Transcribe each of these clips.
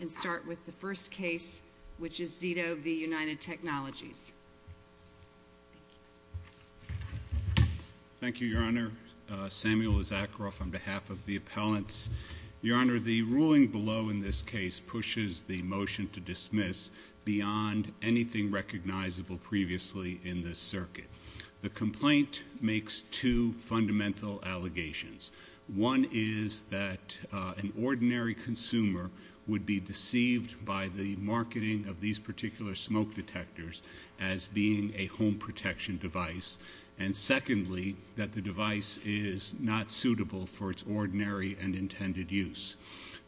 and start with the first case, which is Zito v. United Technologies. Thank you. Thank you, Your Honor. Samuel Isakroff on behalf of the appellants. Your Honor, the ruling below in this case pushes the motion to dismiss beyond anything recognizable previously in this circuit. The complaint makes two fundamental allegations. One is that an ordinary consumer would be deceived by the marketing of these particular smoke detectors as being a home protection device, and secondly, that the device is not suitable for its ordinary and intended use.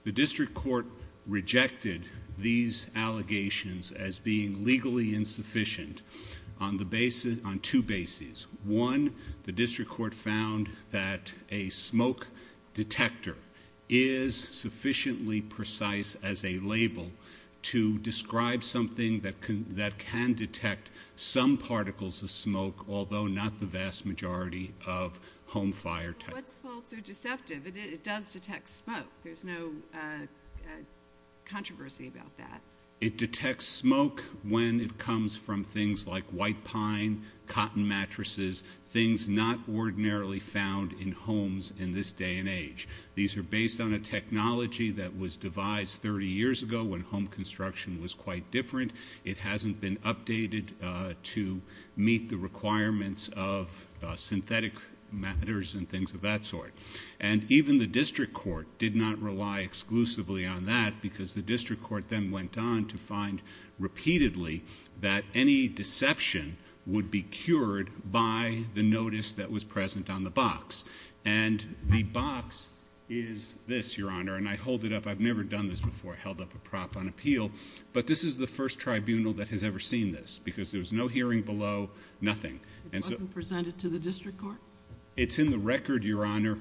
The district court rejected these allegations as being legally insufficient on two bases. One, the district court found that a smoke detector is sufficiently precise as a label to describe something that can detect some particles of smoke, although not the vast majority of home fire type. What's false or deceptive? It does detect smoke. There's no controversy about that. It detects smoke when it comes from things like white pine, cotton mattresses, things not ordinarily found in homes in this day and age. These are based on a technology that was devised 30 years ago when home construction was quite different. It hasn't been updated to meet the requirements of synthetic matters and things of that sort. And even the district court did not rely exclusively on that because the district court then went on to find repeatedly that any deception would be cured by the notice that was present on the box. And the box is this, Your Honor, and I hold it up. I've never done this before. I held up a prop on appeal. But this is the first tribunal that has ever seen this because there's no hearing below nothing. It wasn't presented to the district court? It's in the record, Your Honor,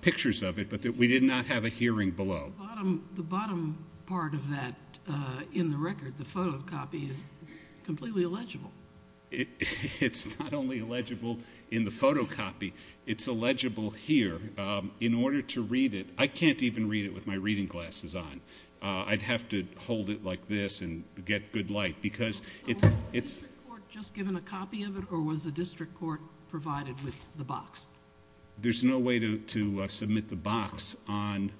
pictures of it, but we did not have a hearing below. The bottom part of that in the record, the photocopy, is completely illegible. It's not only illegible in the photocopy, it's illegible here. In order to read it, I can't even read it with my reading glasses on. I'd have to hold it like this and get good light. So was the district court just given a copy of it or was the district court provided with the box? There's no way to submit the box as an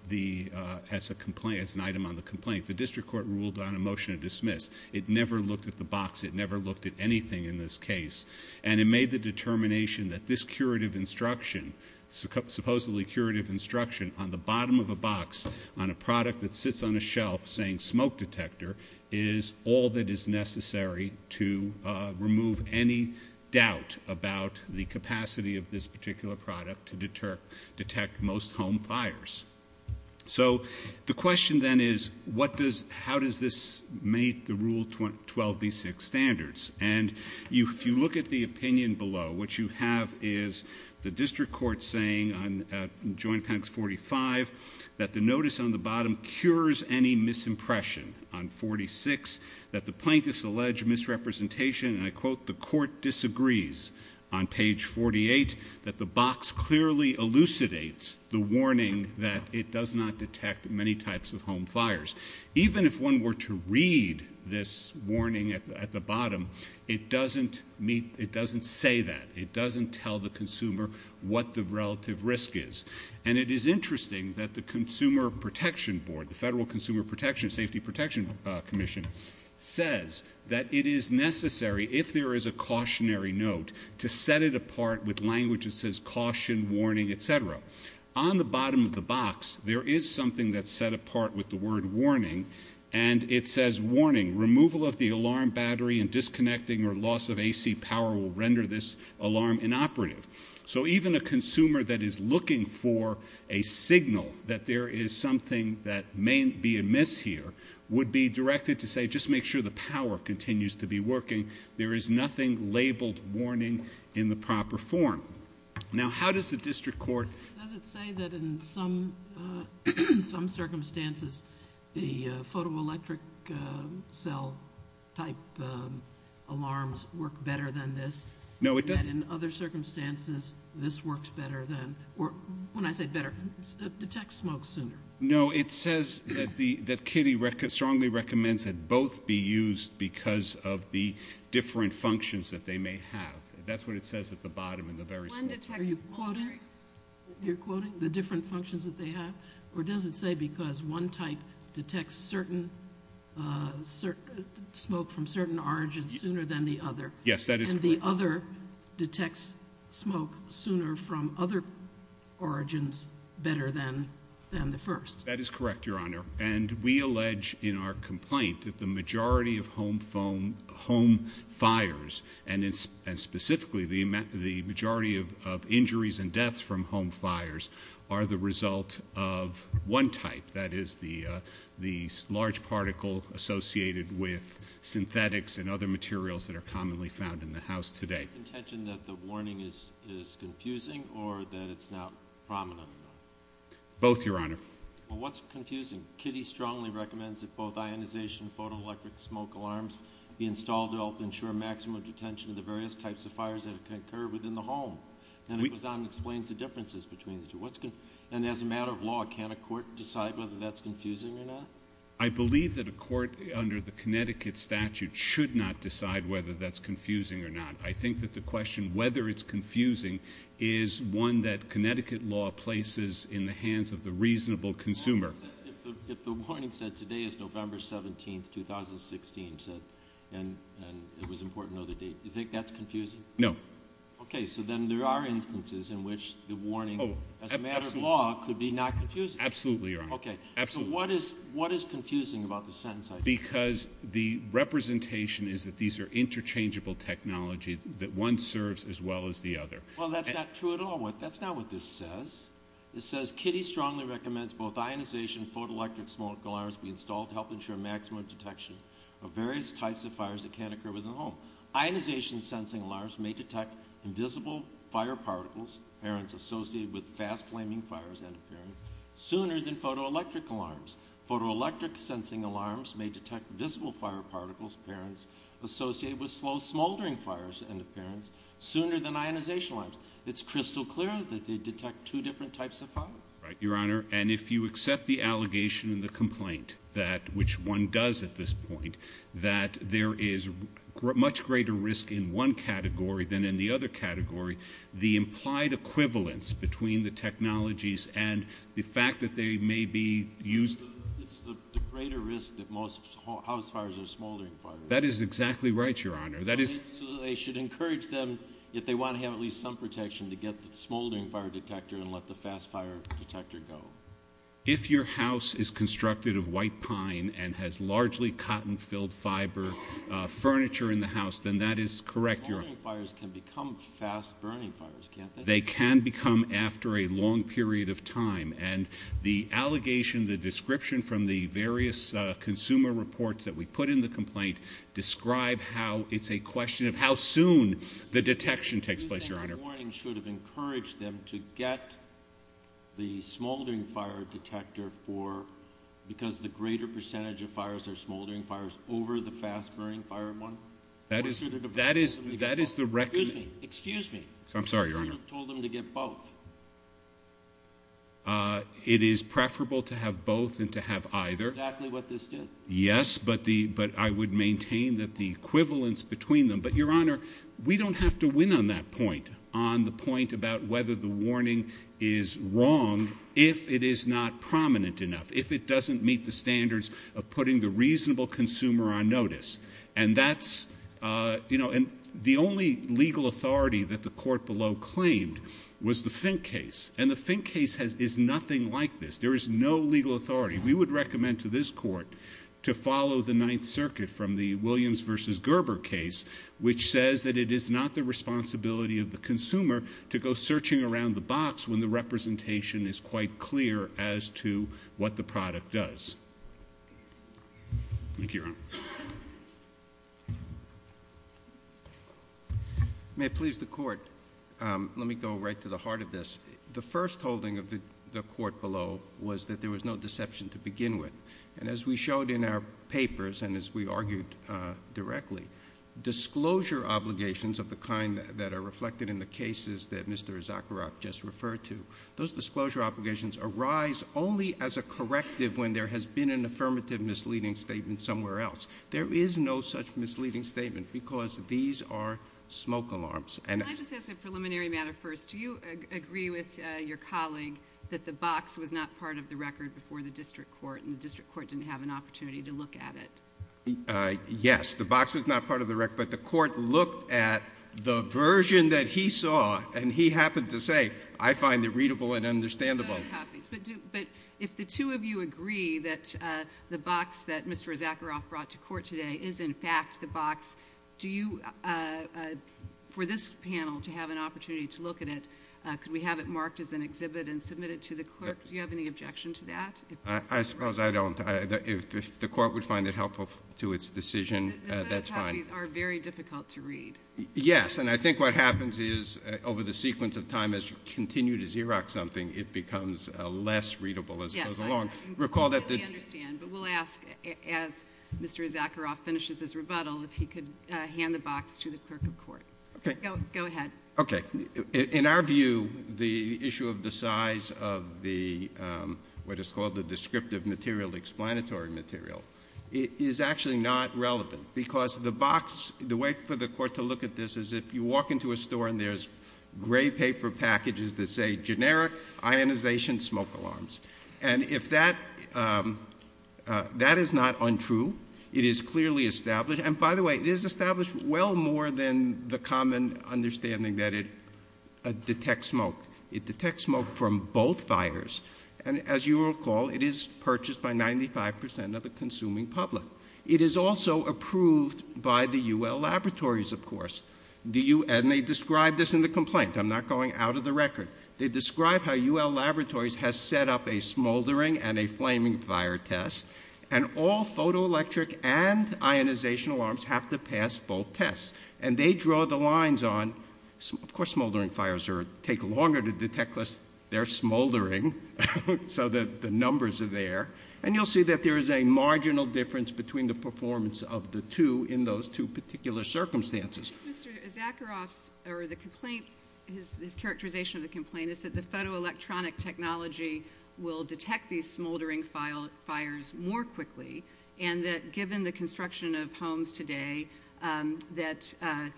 item on the complaint. The district court ruled on a motion to dismiss. It never looked at the box. It never looked at anything in this case. And it made the determination that this curative instruction, supposedly curative instruction on the bottom of a box on a product that sits on a shelf saying smoke detector, is all that is necessary to remove any doubt about the capacity of this particular product to detect most home fires. So the question then is how does this meet the Rule 12b-6 standards? And if you look at the opinion below, what you have is the district court saying, on Joint Appendix 45, that the notice on the bottom cures any misimpression. On 46, that the plaintiffs allege misrepresentation, and I quote, the court disagrees. On page 48, that the box clearly elucidates the warning that it does not detect many types of home fires. Even if one were to read this warning at the bottom, it doesn't say that. It doesn't tell the consumer what the relative risk is. And it is interesting that the Consumer Protection Board, the Federal Consumer Safety Protection Commission, says that it is necessary, if there is a cautionary note, to set it apart with language that says caution, warning, et cetera. On the bottom of the box, there is something that's set apart with the word warning, and it says, warning, removal of the alarm battery and disconnecting or loss of AC power will render this alarm inoperative. So even a consumer that is looking for a signal that there is something that may be amiss here would be directed to say, just make sure the power continues to be working. There is nothing labeled warning in the proper form. Now, how does the district court? Does it say that in some circumstances the photoelectric cell type alarms work better than this? No, it doesn't. And in other circumstances, this works better than, or when I say better, detects smoke sooner? No, it says that Kitty strongly recommends that both be used because of the different functions that they may have. That's what it says at the bottom in the very summary. Are you quoting the different functions that they have? Or does it say because one type detects smoke from certain origins sooner than the other? Yes, that is correct. And the other detects smoke sooner from other origins better than the first? That is correct, Your Honor. And we allege in our complaint that the majority of home fires, and specifically the majority of injuries and deaths from home fires are the result of one type, that is the large particle associated with synthetics and other materials that are commonly found in the house today. Is the intention that the warning is confusing or that it's not prominent enough? Both, Your Honor. Well, what's confusing? Well, to help ensure maximum detention of the various types of fires that occur within the home. And it goes on and explains the differences between the two. And as a matter of law, can't a court decide whether that's confusing or not? I believe that a court under the Connecticut statute should not decide whether that's confusing or not. I think that the question whether it's confusing is one that Connecticut law places in the hands of the reasonable consumer. If the warning said today is November 17, 2016, and it was important to know the date, do you think that's confusing? No. Okay, so then there are instances in which the warning, as a matter of law, could be not confusing. Absolutely, Your Honor. Okay, so what is confusing about the sentence? Because the representation is that these are interchangeable technology that one serves as well as the other. Well, that's not true at all. That's not what this says. It says, Kitty strongly recommends both ionization and photoelectric smoke alarms be installed to help ensure maximum detection of various types of fires that can occur within the home. Ionization sensing alarms may detect invisible fire particles, parents, associated with fast-flaming fires, end of parents, sooner than photoelectric alarms. Photoelectric sensing alarms may detect visible fire particles, parents, associated with slow smoldering fires, end of parents, sooner than ionization alarms. It's crystal clear that they detect two different types of fire. Right, Your Honor. And if you accept the allegation and the complaint that, which one does at this point, that there is much greater risk in one category than in the other category, the implied equivalence between the technologies and the fact that they may be used It's the greater risk that most house fires or smoldering fires. That is exactly right, Your Honor. So they should encourage them, if they want to have at least some protection, to get the smoldering fire detector and let the fast-fire detector go. If your house is constructed of white pine and has largely cotton-filled fiber furniture in the house, then that is correct, Your Honor. Smoldering fires can become fast-burning fires, can't they? They can become after a long period of time. And the allegation, the description from the various consumer reports that we put in the complaint, describe how it's a question of how soon the detection takes place, Your Honor. Do you think the warning should have encouraged them to get the smoldering fire detector for, because the greater percentage of fires are smoldering fires, over the fast-burning fire month? That is the recommendation. Excuse me. I'm sorry, Your Honor. You told them to get both. It is preferable to have both than to have either. Exactly what this did. Yes, but I would maintain that the equivalence between them. But, Your Honor, we don't have to win on that point, on the point about whether the warning is wrong if it is not prominent enough, if it doesn't meet the standards of putting the reasonable consumer on notice. And that's, you know, and the only legal authority that the court below claimed was the Fink case. And the Fink case is nothing like this. There is no legal authority. We would recommend to this court to follow the Ninth Circuit from the Williams v. Gerber case, which says that it is not the responsibility of the consumer to go searching around the box when the representation is quite clear as to what the product does. Thank you, Your Honor. May it please the court, let me go right to the heart of this. The first holding of the court below was that there was no deception to begin with. And as we showed in our papers and as we argued directly, disclosure obligations of the kind that are reflected in the cases that Mr. Zakharoff just referred to, those disclosure obligations arise only as a corrective when there has been an affirmative misleading statement somewhere else. There is no such misleading statement because these are smoke alarms. Can I just ask a preliminary matter first? Do you agree with your colleague that the box was not part of the record before the district court and the district court didn't have an opportunity to look at it? Yes, the box was not part of the record, but the court looked at the version that he saw and he happened to say, I find it readable and understandable. But if the two of you agree that the box that Mr. Zakharoff brought to court today is in fact the box, do you, for this panel to have an opportunity to look at it, could we have it marked as an exhibit and submit it to the clerk? Do you have any objection to that? I suppose I don't. If the court would find it helpful to its decision, that's fine. The photocopies are very difficult to read. Yes, and I think what happens is over the sequence of time as you continue to Xerox something, it becomes less readable as it goes along. Yes, I completely understand. But we'll ask, as Mr. Zakharoff finishes his rebuttal, if he could hand the box to the clerk of court. Okay. Go ahead. Okay. In our view, the issue of the size of the, what is called the descriptive material, explanatory material, is actually not relevant. Because the box, the way for the court to look at this is if you walk into a store and there's gray paper packages that say, generic ionization smoke alarms. And if that, that is not untrue. It is clearly established. And by the way, it is established well more than the common understanding that it detects smoke. It detects smoke from both fires. And as you recall, it is purchased by 95% of the consuming public. It is also approved by the UL Laboratories, of course. And they describe this in the complaint. I'm not going out of the record. They describe how UL Laboratories has set up a smoldering and a flaming fire test. And all photoelectric and ionization alarms have to pass both tests. And they draw the lines on, of course, smoldering fires take longer to detect, unless they're smoldering, so that the numbers are there. And you'll see that there is a marginal difference between the performance of the two in those two particular circumstances. Mr. Zakharoff's, or the complaint, his characterization of the complaint, is that the photoelectronic technology will detect these smoldering fires more quickly. And that given the construction of homes today, that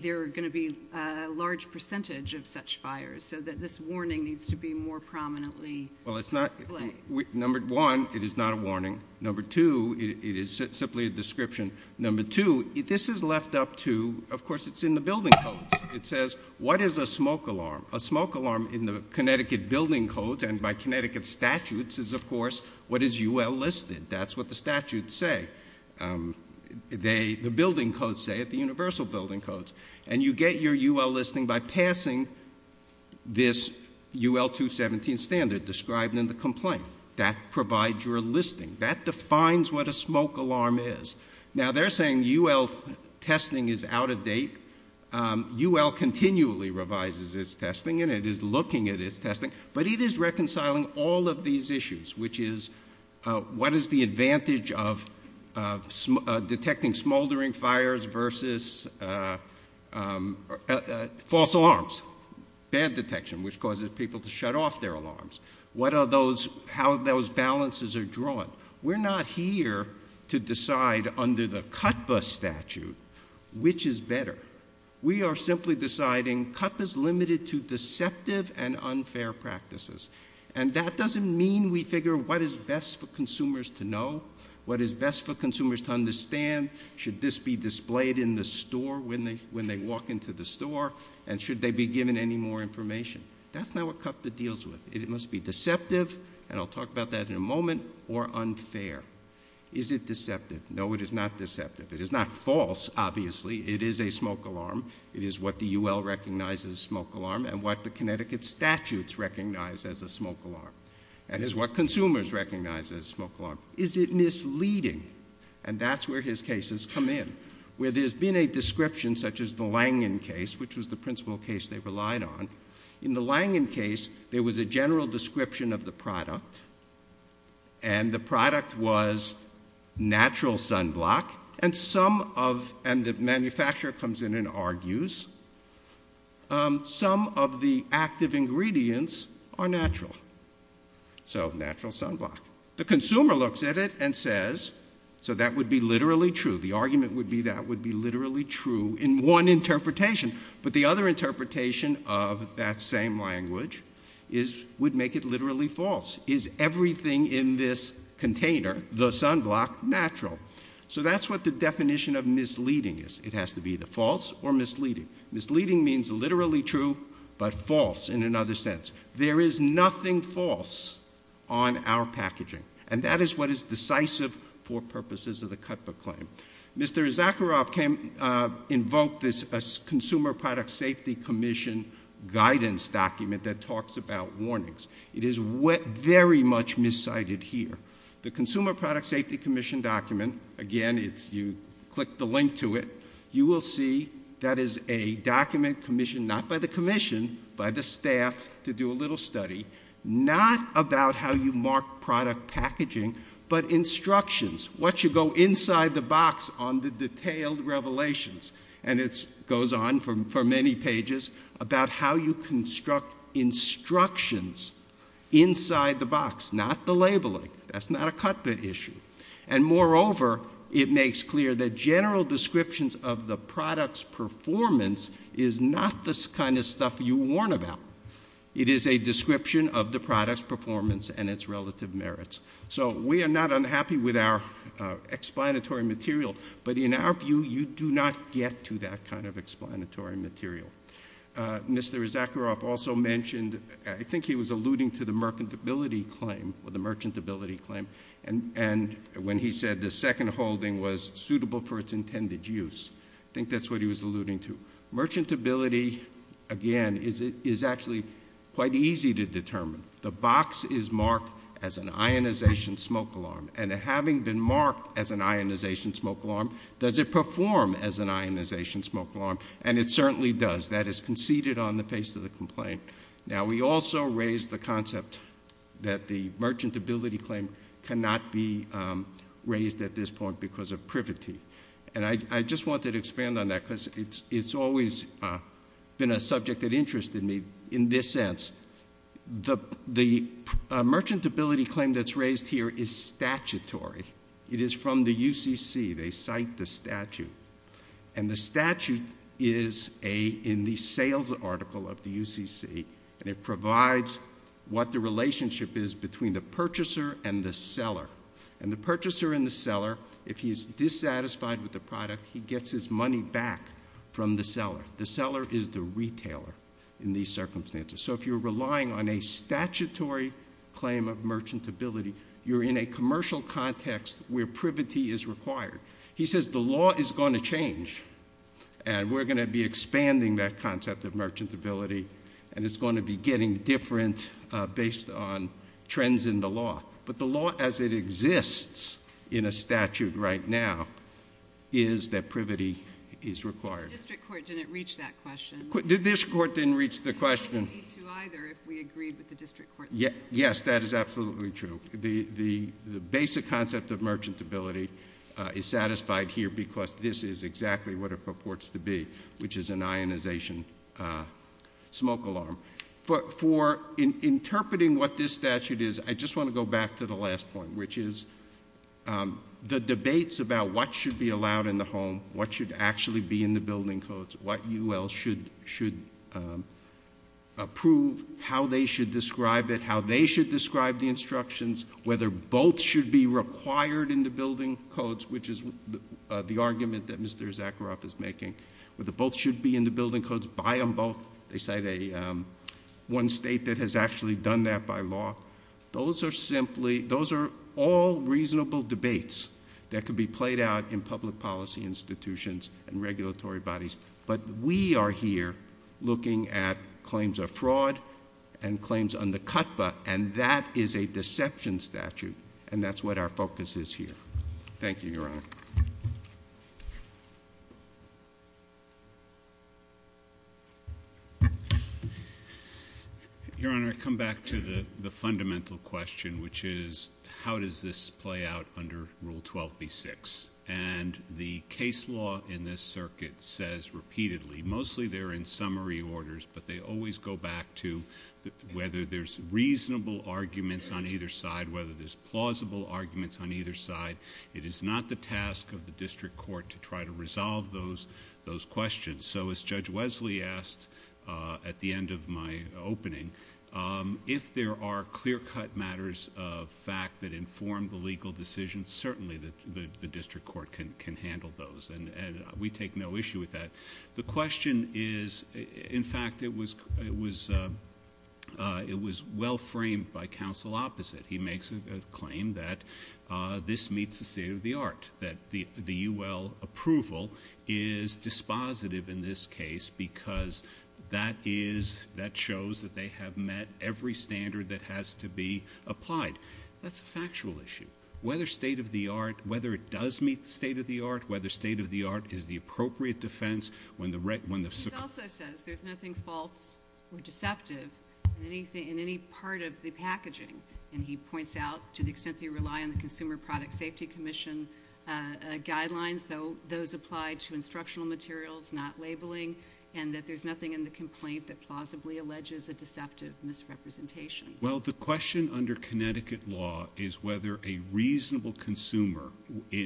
there are going to be a large percentage of such fires, so that this warning needs to be more prominently displayed. Well, it's not, number one, it is not a warning. Number two, it is simply a description. Number two, this is left up to, of course, it's in the building codes. It says, what is a smoke alarm? A smoke alarm in the Connecticut building codes and by Connecticut statutes is, of course, what is UL listed. That's what the statutes say. The building codes say it, the universal building codes. And you get your UL listing by passing this UL 217 standard described in the complaint. That provides your listing. That defines what a smoke alarm is. Now, they're saying UL testing is out of date. UL continually revises its testing and it is looking at its testing. But it is reconciling all of these issues, which is, what is the advantage of detecting smoldering fires versus false alarms? Bad detection, which causes people to shut off their alarms. What are those, how those balances are drawn? We're not here to decide under the CUTPA statute which is better. We are simply deciding CUTPA is limited to deceptive and unfair practices. And that doesn't mean we figure what is best for consumers to know, what is best for consumers to understand. Should this be displayed in the store when they walk into the store? And should they be given any more information? That's not what CUTPA deals with. It must be deceptive, and I'll talk about that in a moment, or unfair. Is it deceptive? No, it is not deceptive. It is not false, obviously. It is a smoke alarm. It is what the UL recognizes as a smoke alarm and what the Connecticut statutes recognize as a smoke alarm. And is what consumers recognize as a smoke alarm. Is it misleading? And that's where his cases come in. Where there's been a description such as the Langan case, which was the principal case they relied on. In the Langan case, there was a general description of the product. And the product was natural sunblock. And some of, and the manufacturer comes in and argues, some of the active ingredients are natural. So natural sunblock. The consumer looks at it and says, so that would be literally true. The argument would be that would be literally true in one interpretation. But the other interpretation of that same language is, would make it literally false. Is everything in this container, the sunblock, natural? So that's what the definition of misleading is. It has to be either false or misleading. Misleading means literally true, but false in another sense. There is nothing false on our packaging. And that is what is decisive for purposes of the cutbook claim. Mr. Zakharoff invoked this Consumer Product Safety Commission guidance document that talks about warnings. It is very much miscited here. The Consumer Product Safety Commission document, again, you click the link to it, you will see that is a document commissioned not by the commission, by the staff to do a little study, not about how you mark product packaging, but instructions. What you go inside the box on the detailed revelations. And it goes on for many pages about how you construct instructions inside the box, not the labeling. That's not a cutbook issue. And moreover, it makes clear that general descriptions of the product's performance is not the kind of stuff you warn about. It is a description of the product's performance and its relative merits. So we are not unhappy with our explanatory material. But in our view, you do not get to that kind of explanatory material. Mr. Zakharoff also mentioned, I think he was alluding to the merchantability claim, and when he said the second holding was suitable for its intended use. I think that's what he was alluding to. Merchantability, again, is actually quite easy to determine. The box is marked as an ionization smoke alarm. And having been marked as an ionization smoke alarm, does it perform as an ionization smoke alarm? And it certainly does. That is conceded on the face of the complaint. Now, we also raised the concept that the merchantability claim cannot be raised at this point because of privity. And I just wanted to expand on that because it's always been a subject that interested me in this sense. The merchantability claim that's raised here is statutory. It is from the UCC. They cite the statute. And the statute is in the sales article of the UCC, and it provides what the relationship is between the purchaser and the seller. And the purchaser and the seller, if he is dissatisfied with the product, he gets his money back from the seller. The seller is the retailer in these circumstances. So if you're relying on a statutory claim of merchantability, you're in a commercial context where privity is required. He says the law is going to change, and we're going to be expanding that concept of merchantability, and it's going to be getting different based on trends in the law. But the law as it exists in a statute right now is that privity is required. The district court didn't reach that question. This court didn't reach the question. Neither if we agreed with the district court. Yes, that is absolutely true. The basic concept of merchantability is satisfied here because this is exactly what it purports to be, which is an ionization smoke alarm. For interpreting what this statute is, I just want to go back to the last point, which is the debates about what should be allowed in the home, what should actually be in the building codes, what UL should approve, how they should describe it, how they should describe the instructions, whether both should be required in the building codes, which is the argument that Mr. Zakharoff is making, whether both should be in the building codes, buy them both. They cite one state that has actually done that by law. Those are all reasonable debates that could be played out in public policy institutions and regulatory bodies. But we are here looking at claims of fraud and claims under CUTPA, and that is a deception statute, and that's what our focus is here. Thank you, Your Honor. Your Honor, I come back to the fundamental question, which is how does this play out under Rule 12b-6? And the case law in this circuit says repeatedly, mostly they're in summary orders, but they always go back to whether there's reasonable arguments on either side, whether there's plausible arguments on either side. It is not the task of the district court to try to resolve those questions. So as Judge Wesley asked at the end of my opening, if there are clear-cut matters of fact that inform the legal decision, certainly the district court can handle those, and we take no issue with that. The question is, in fact, it was well-framed by counsel opposite. He makes a claim that this meets the state-of-the-art, that the UL approval is dispositive in this case because that shows that they have met every standard that has to be applied. That's a factual issue. Whether state-of-the-art, whether it does meet the state-of-the-art, whether state-of-the-art is the appropriate defense when the circuit... He also says there's nothing false or deceptive in any part of the packaging, and he points out, to the extent that you rely on the Consumer Product Safety Commission guidelines, those apply to instructional materials, not labeling, and that there's nothing in the complaint that plausibly alleges a deceptive misrepresentation. Well, the question under Connecticut law is whether a reasonable consumer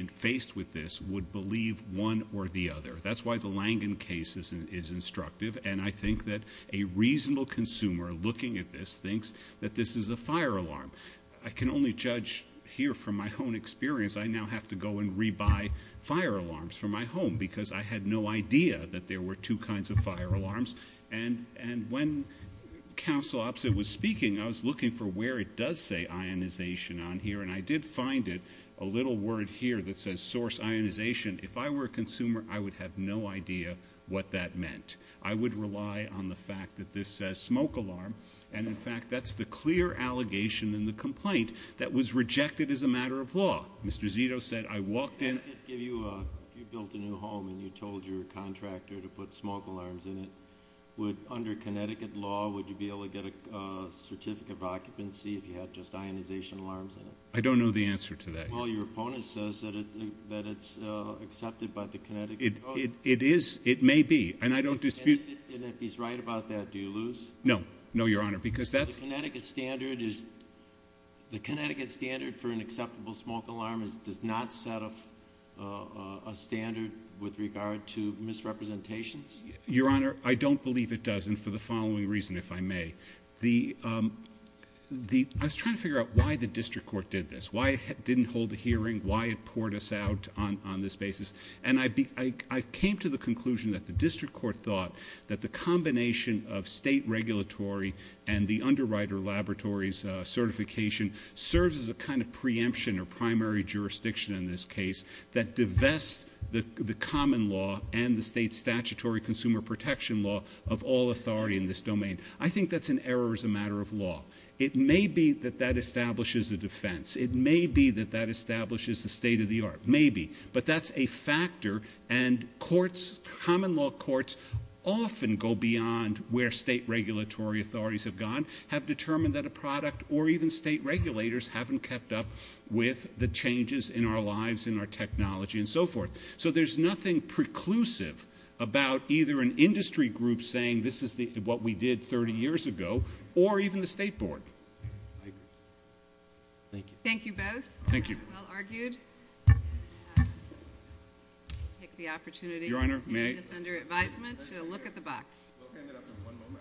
faced with this would believe one or the other. That's why the Langan case is instructive, and I think that a reasonable consumer looking at this thinks that this is a fire alarm. I can only judge here from my own experience. I now have to go and rebuy fire alarms from my home because I had no idea that there were two kinds of fire alarms, and when counsel opposite was speaking, I was looking for where it does say ionization on here, and I did find it, a little word here that says source ionization. If I were a consumer, I would have no idea what that meant. I would rely on the fact that this says smoke alarm, and, in fact, that's the clear allegation in the complaint that was rejected as a matter of law. Mr. Zito said, I walked in. If you built a new home and you told your contractor to put smoke alarms in it, would, under Connecticut law, would you be able to get a certificate of occupancy if you had just ionization alarms in it? I don't know the answer to that yet. It may be, and I don't dispute it. And if he's right about that, do you lose? No, no, Your Honor, because that's- The Connecticut standard for an acceptable smoke alarm does not set a standard with regard to misrepresentations? Your Honor, I don't believe it does, and for the following reason, if I may. I was trying to figure out why the district court did this, why it didn't hold a hearing, why it poured us out on this basis, and I came to the conclusion that the district court thought that the combination of state regulatory and the underwriter laboratories certification serves as a kind of preemption or primary jurisdiction in this case that divests the common law and the state statutory consumer protection law of all authority in this domain. I think that's an error as a matter of law. It may be that that establishes a defense. It may be that that establishes the state of the art. Maybe. But that's a factor, and courts, common law courts, often go beyond where state regulatory authorities have gone, have determined that a product or even state regulators haven't kept up with the changes in our lives, in our technology, and so forth. So there's nothing preclusive about either an industry group saying this is what we did 30 years ago, or even the state board. Thank you. Thank you both. Thank you. Well argued. I'll take the opportunity. Your Honor, may I? To make this under advisement to look at the box. We'll hand it up in one moment.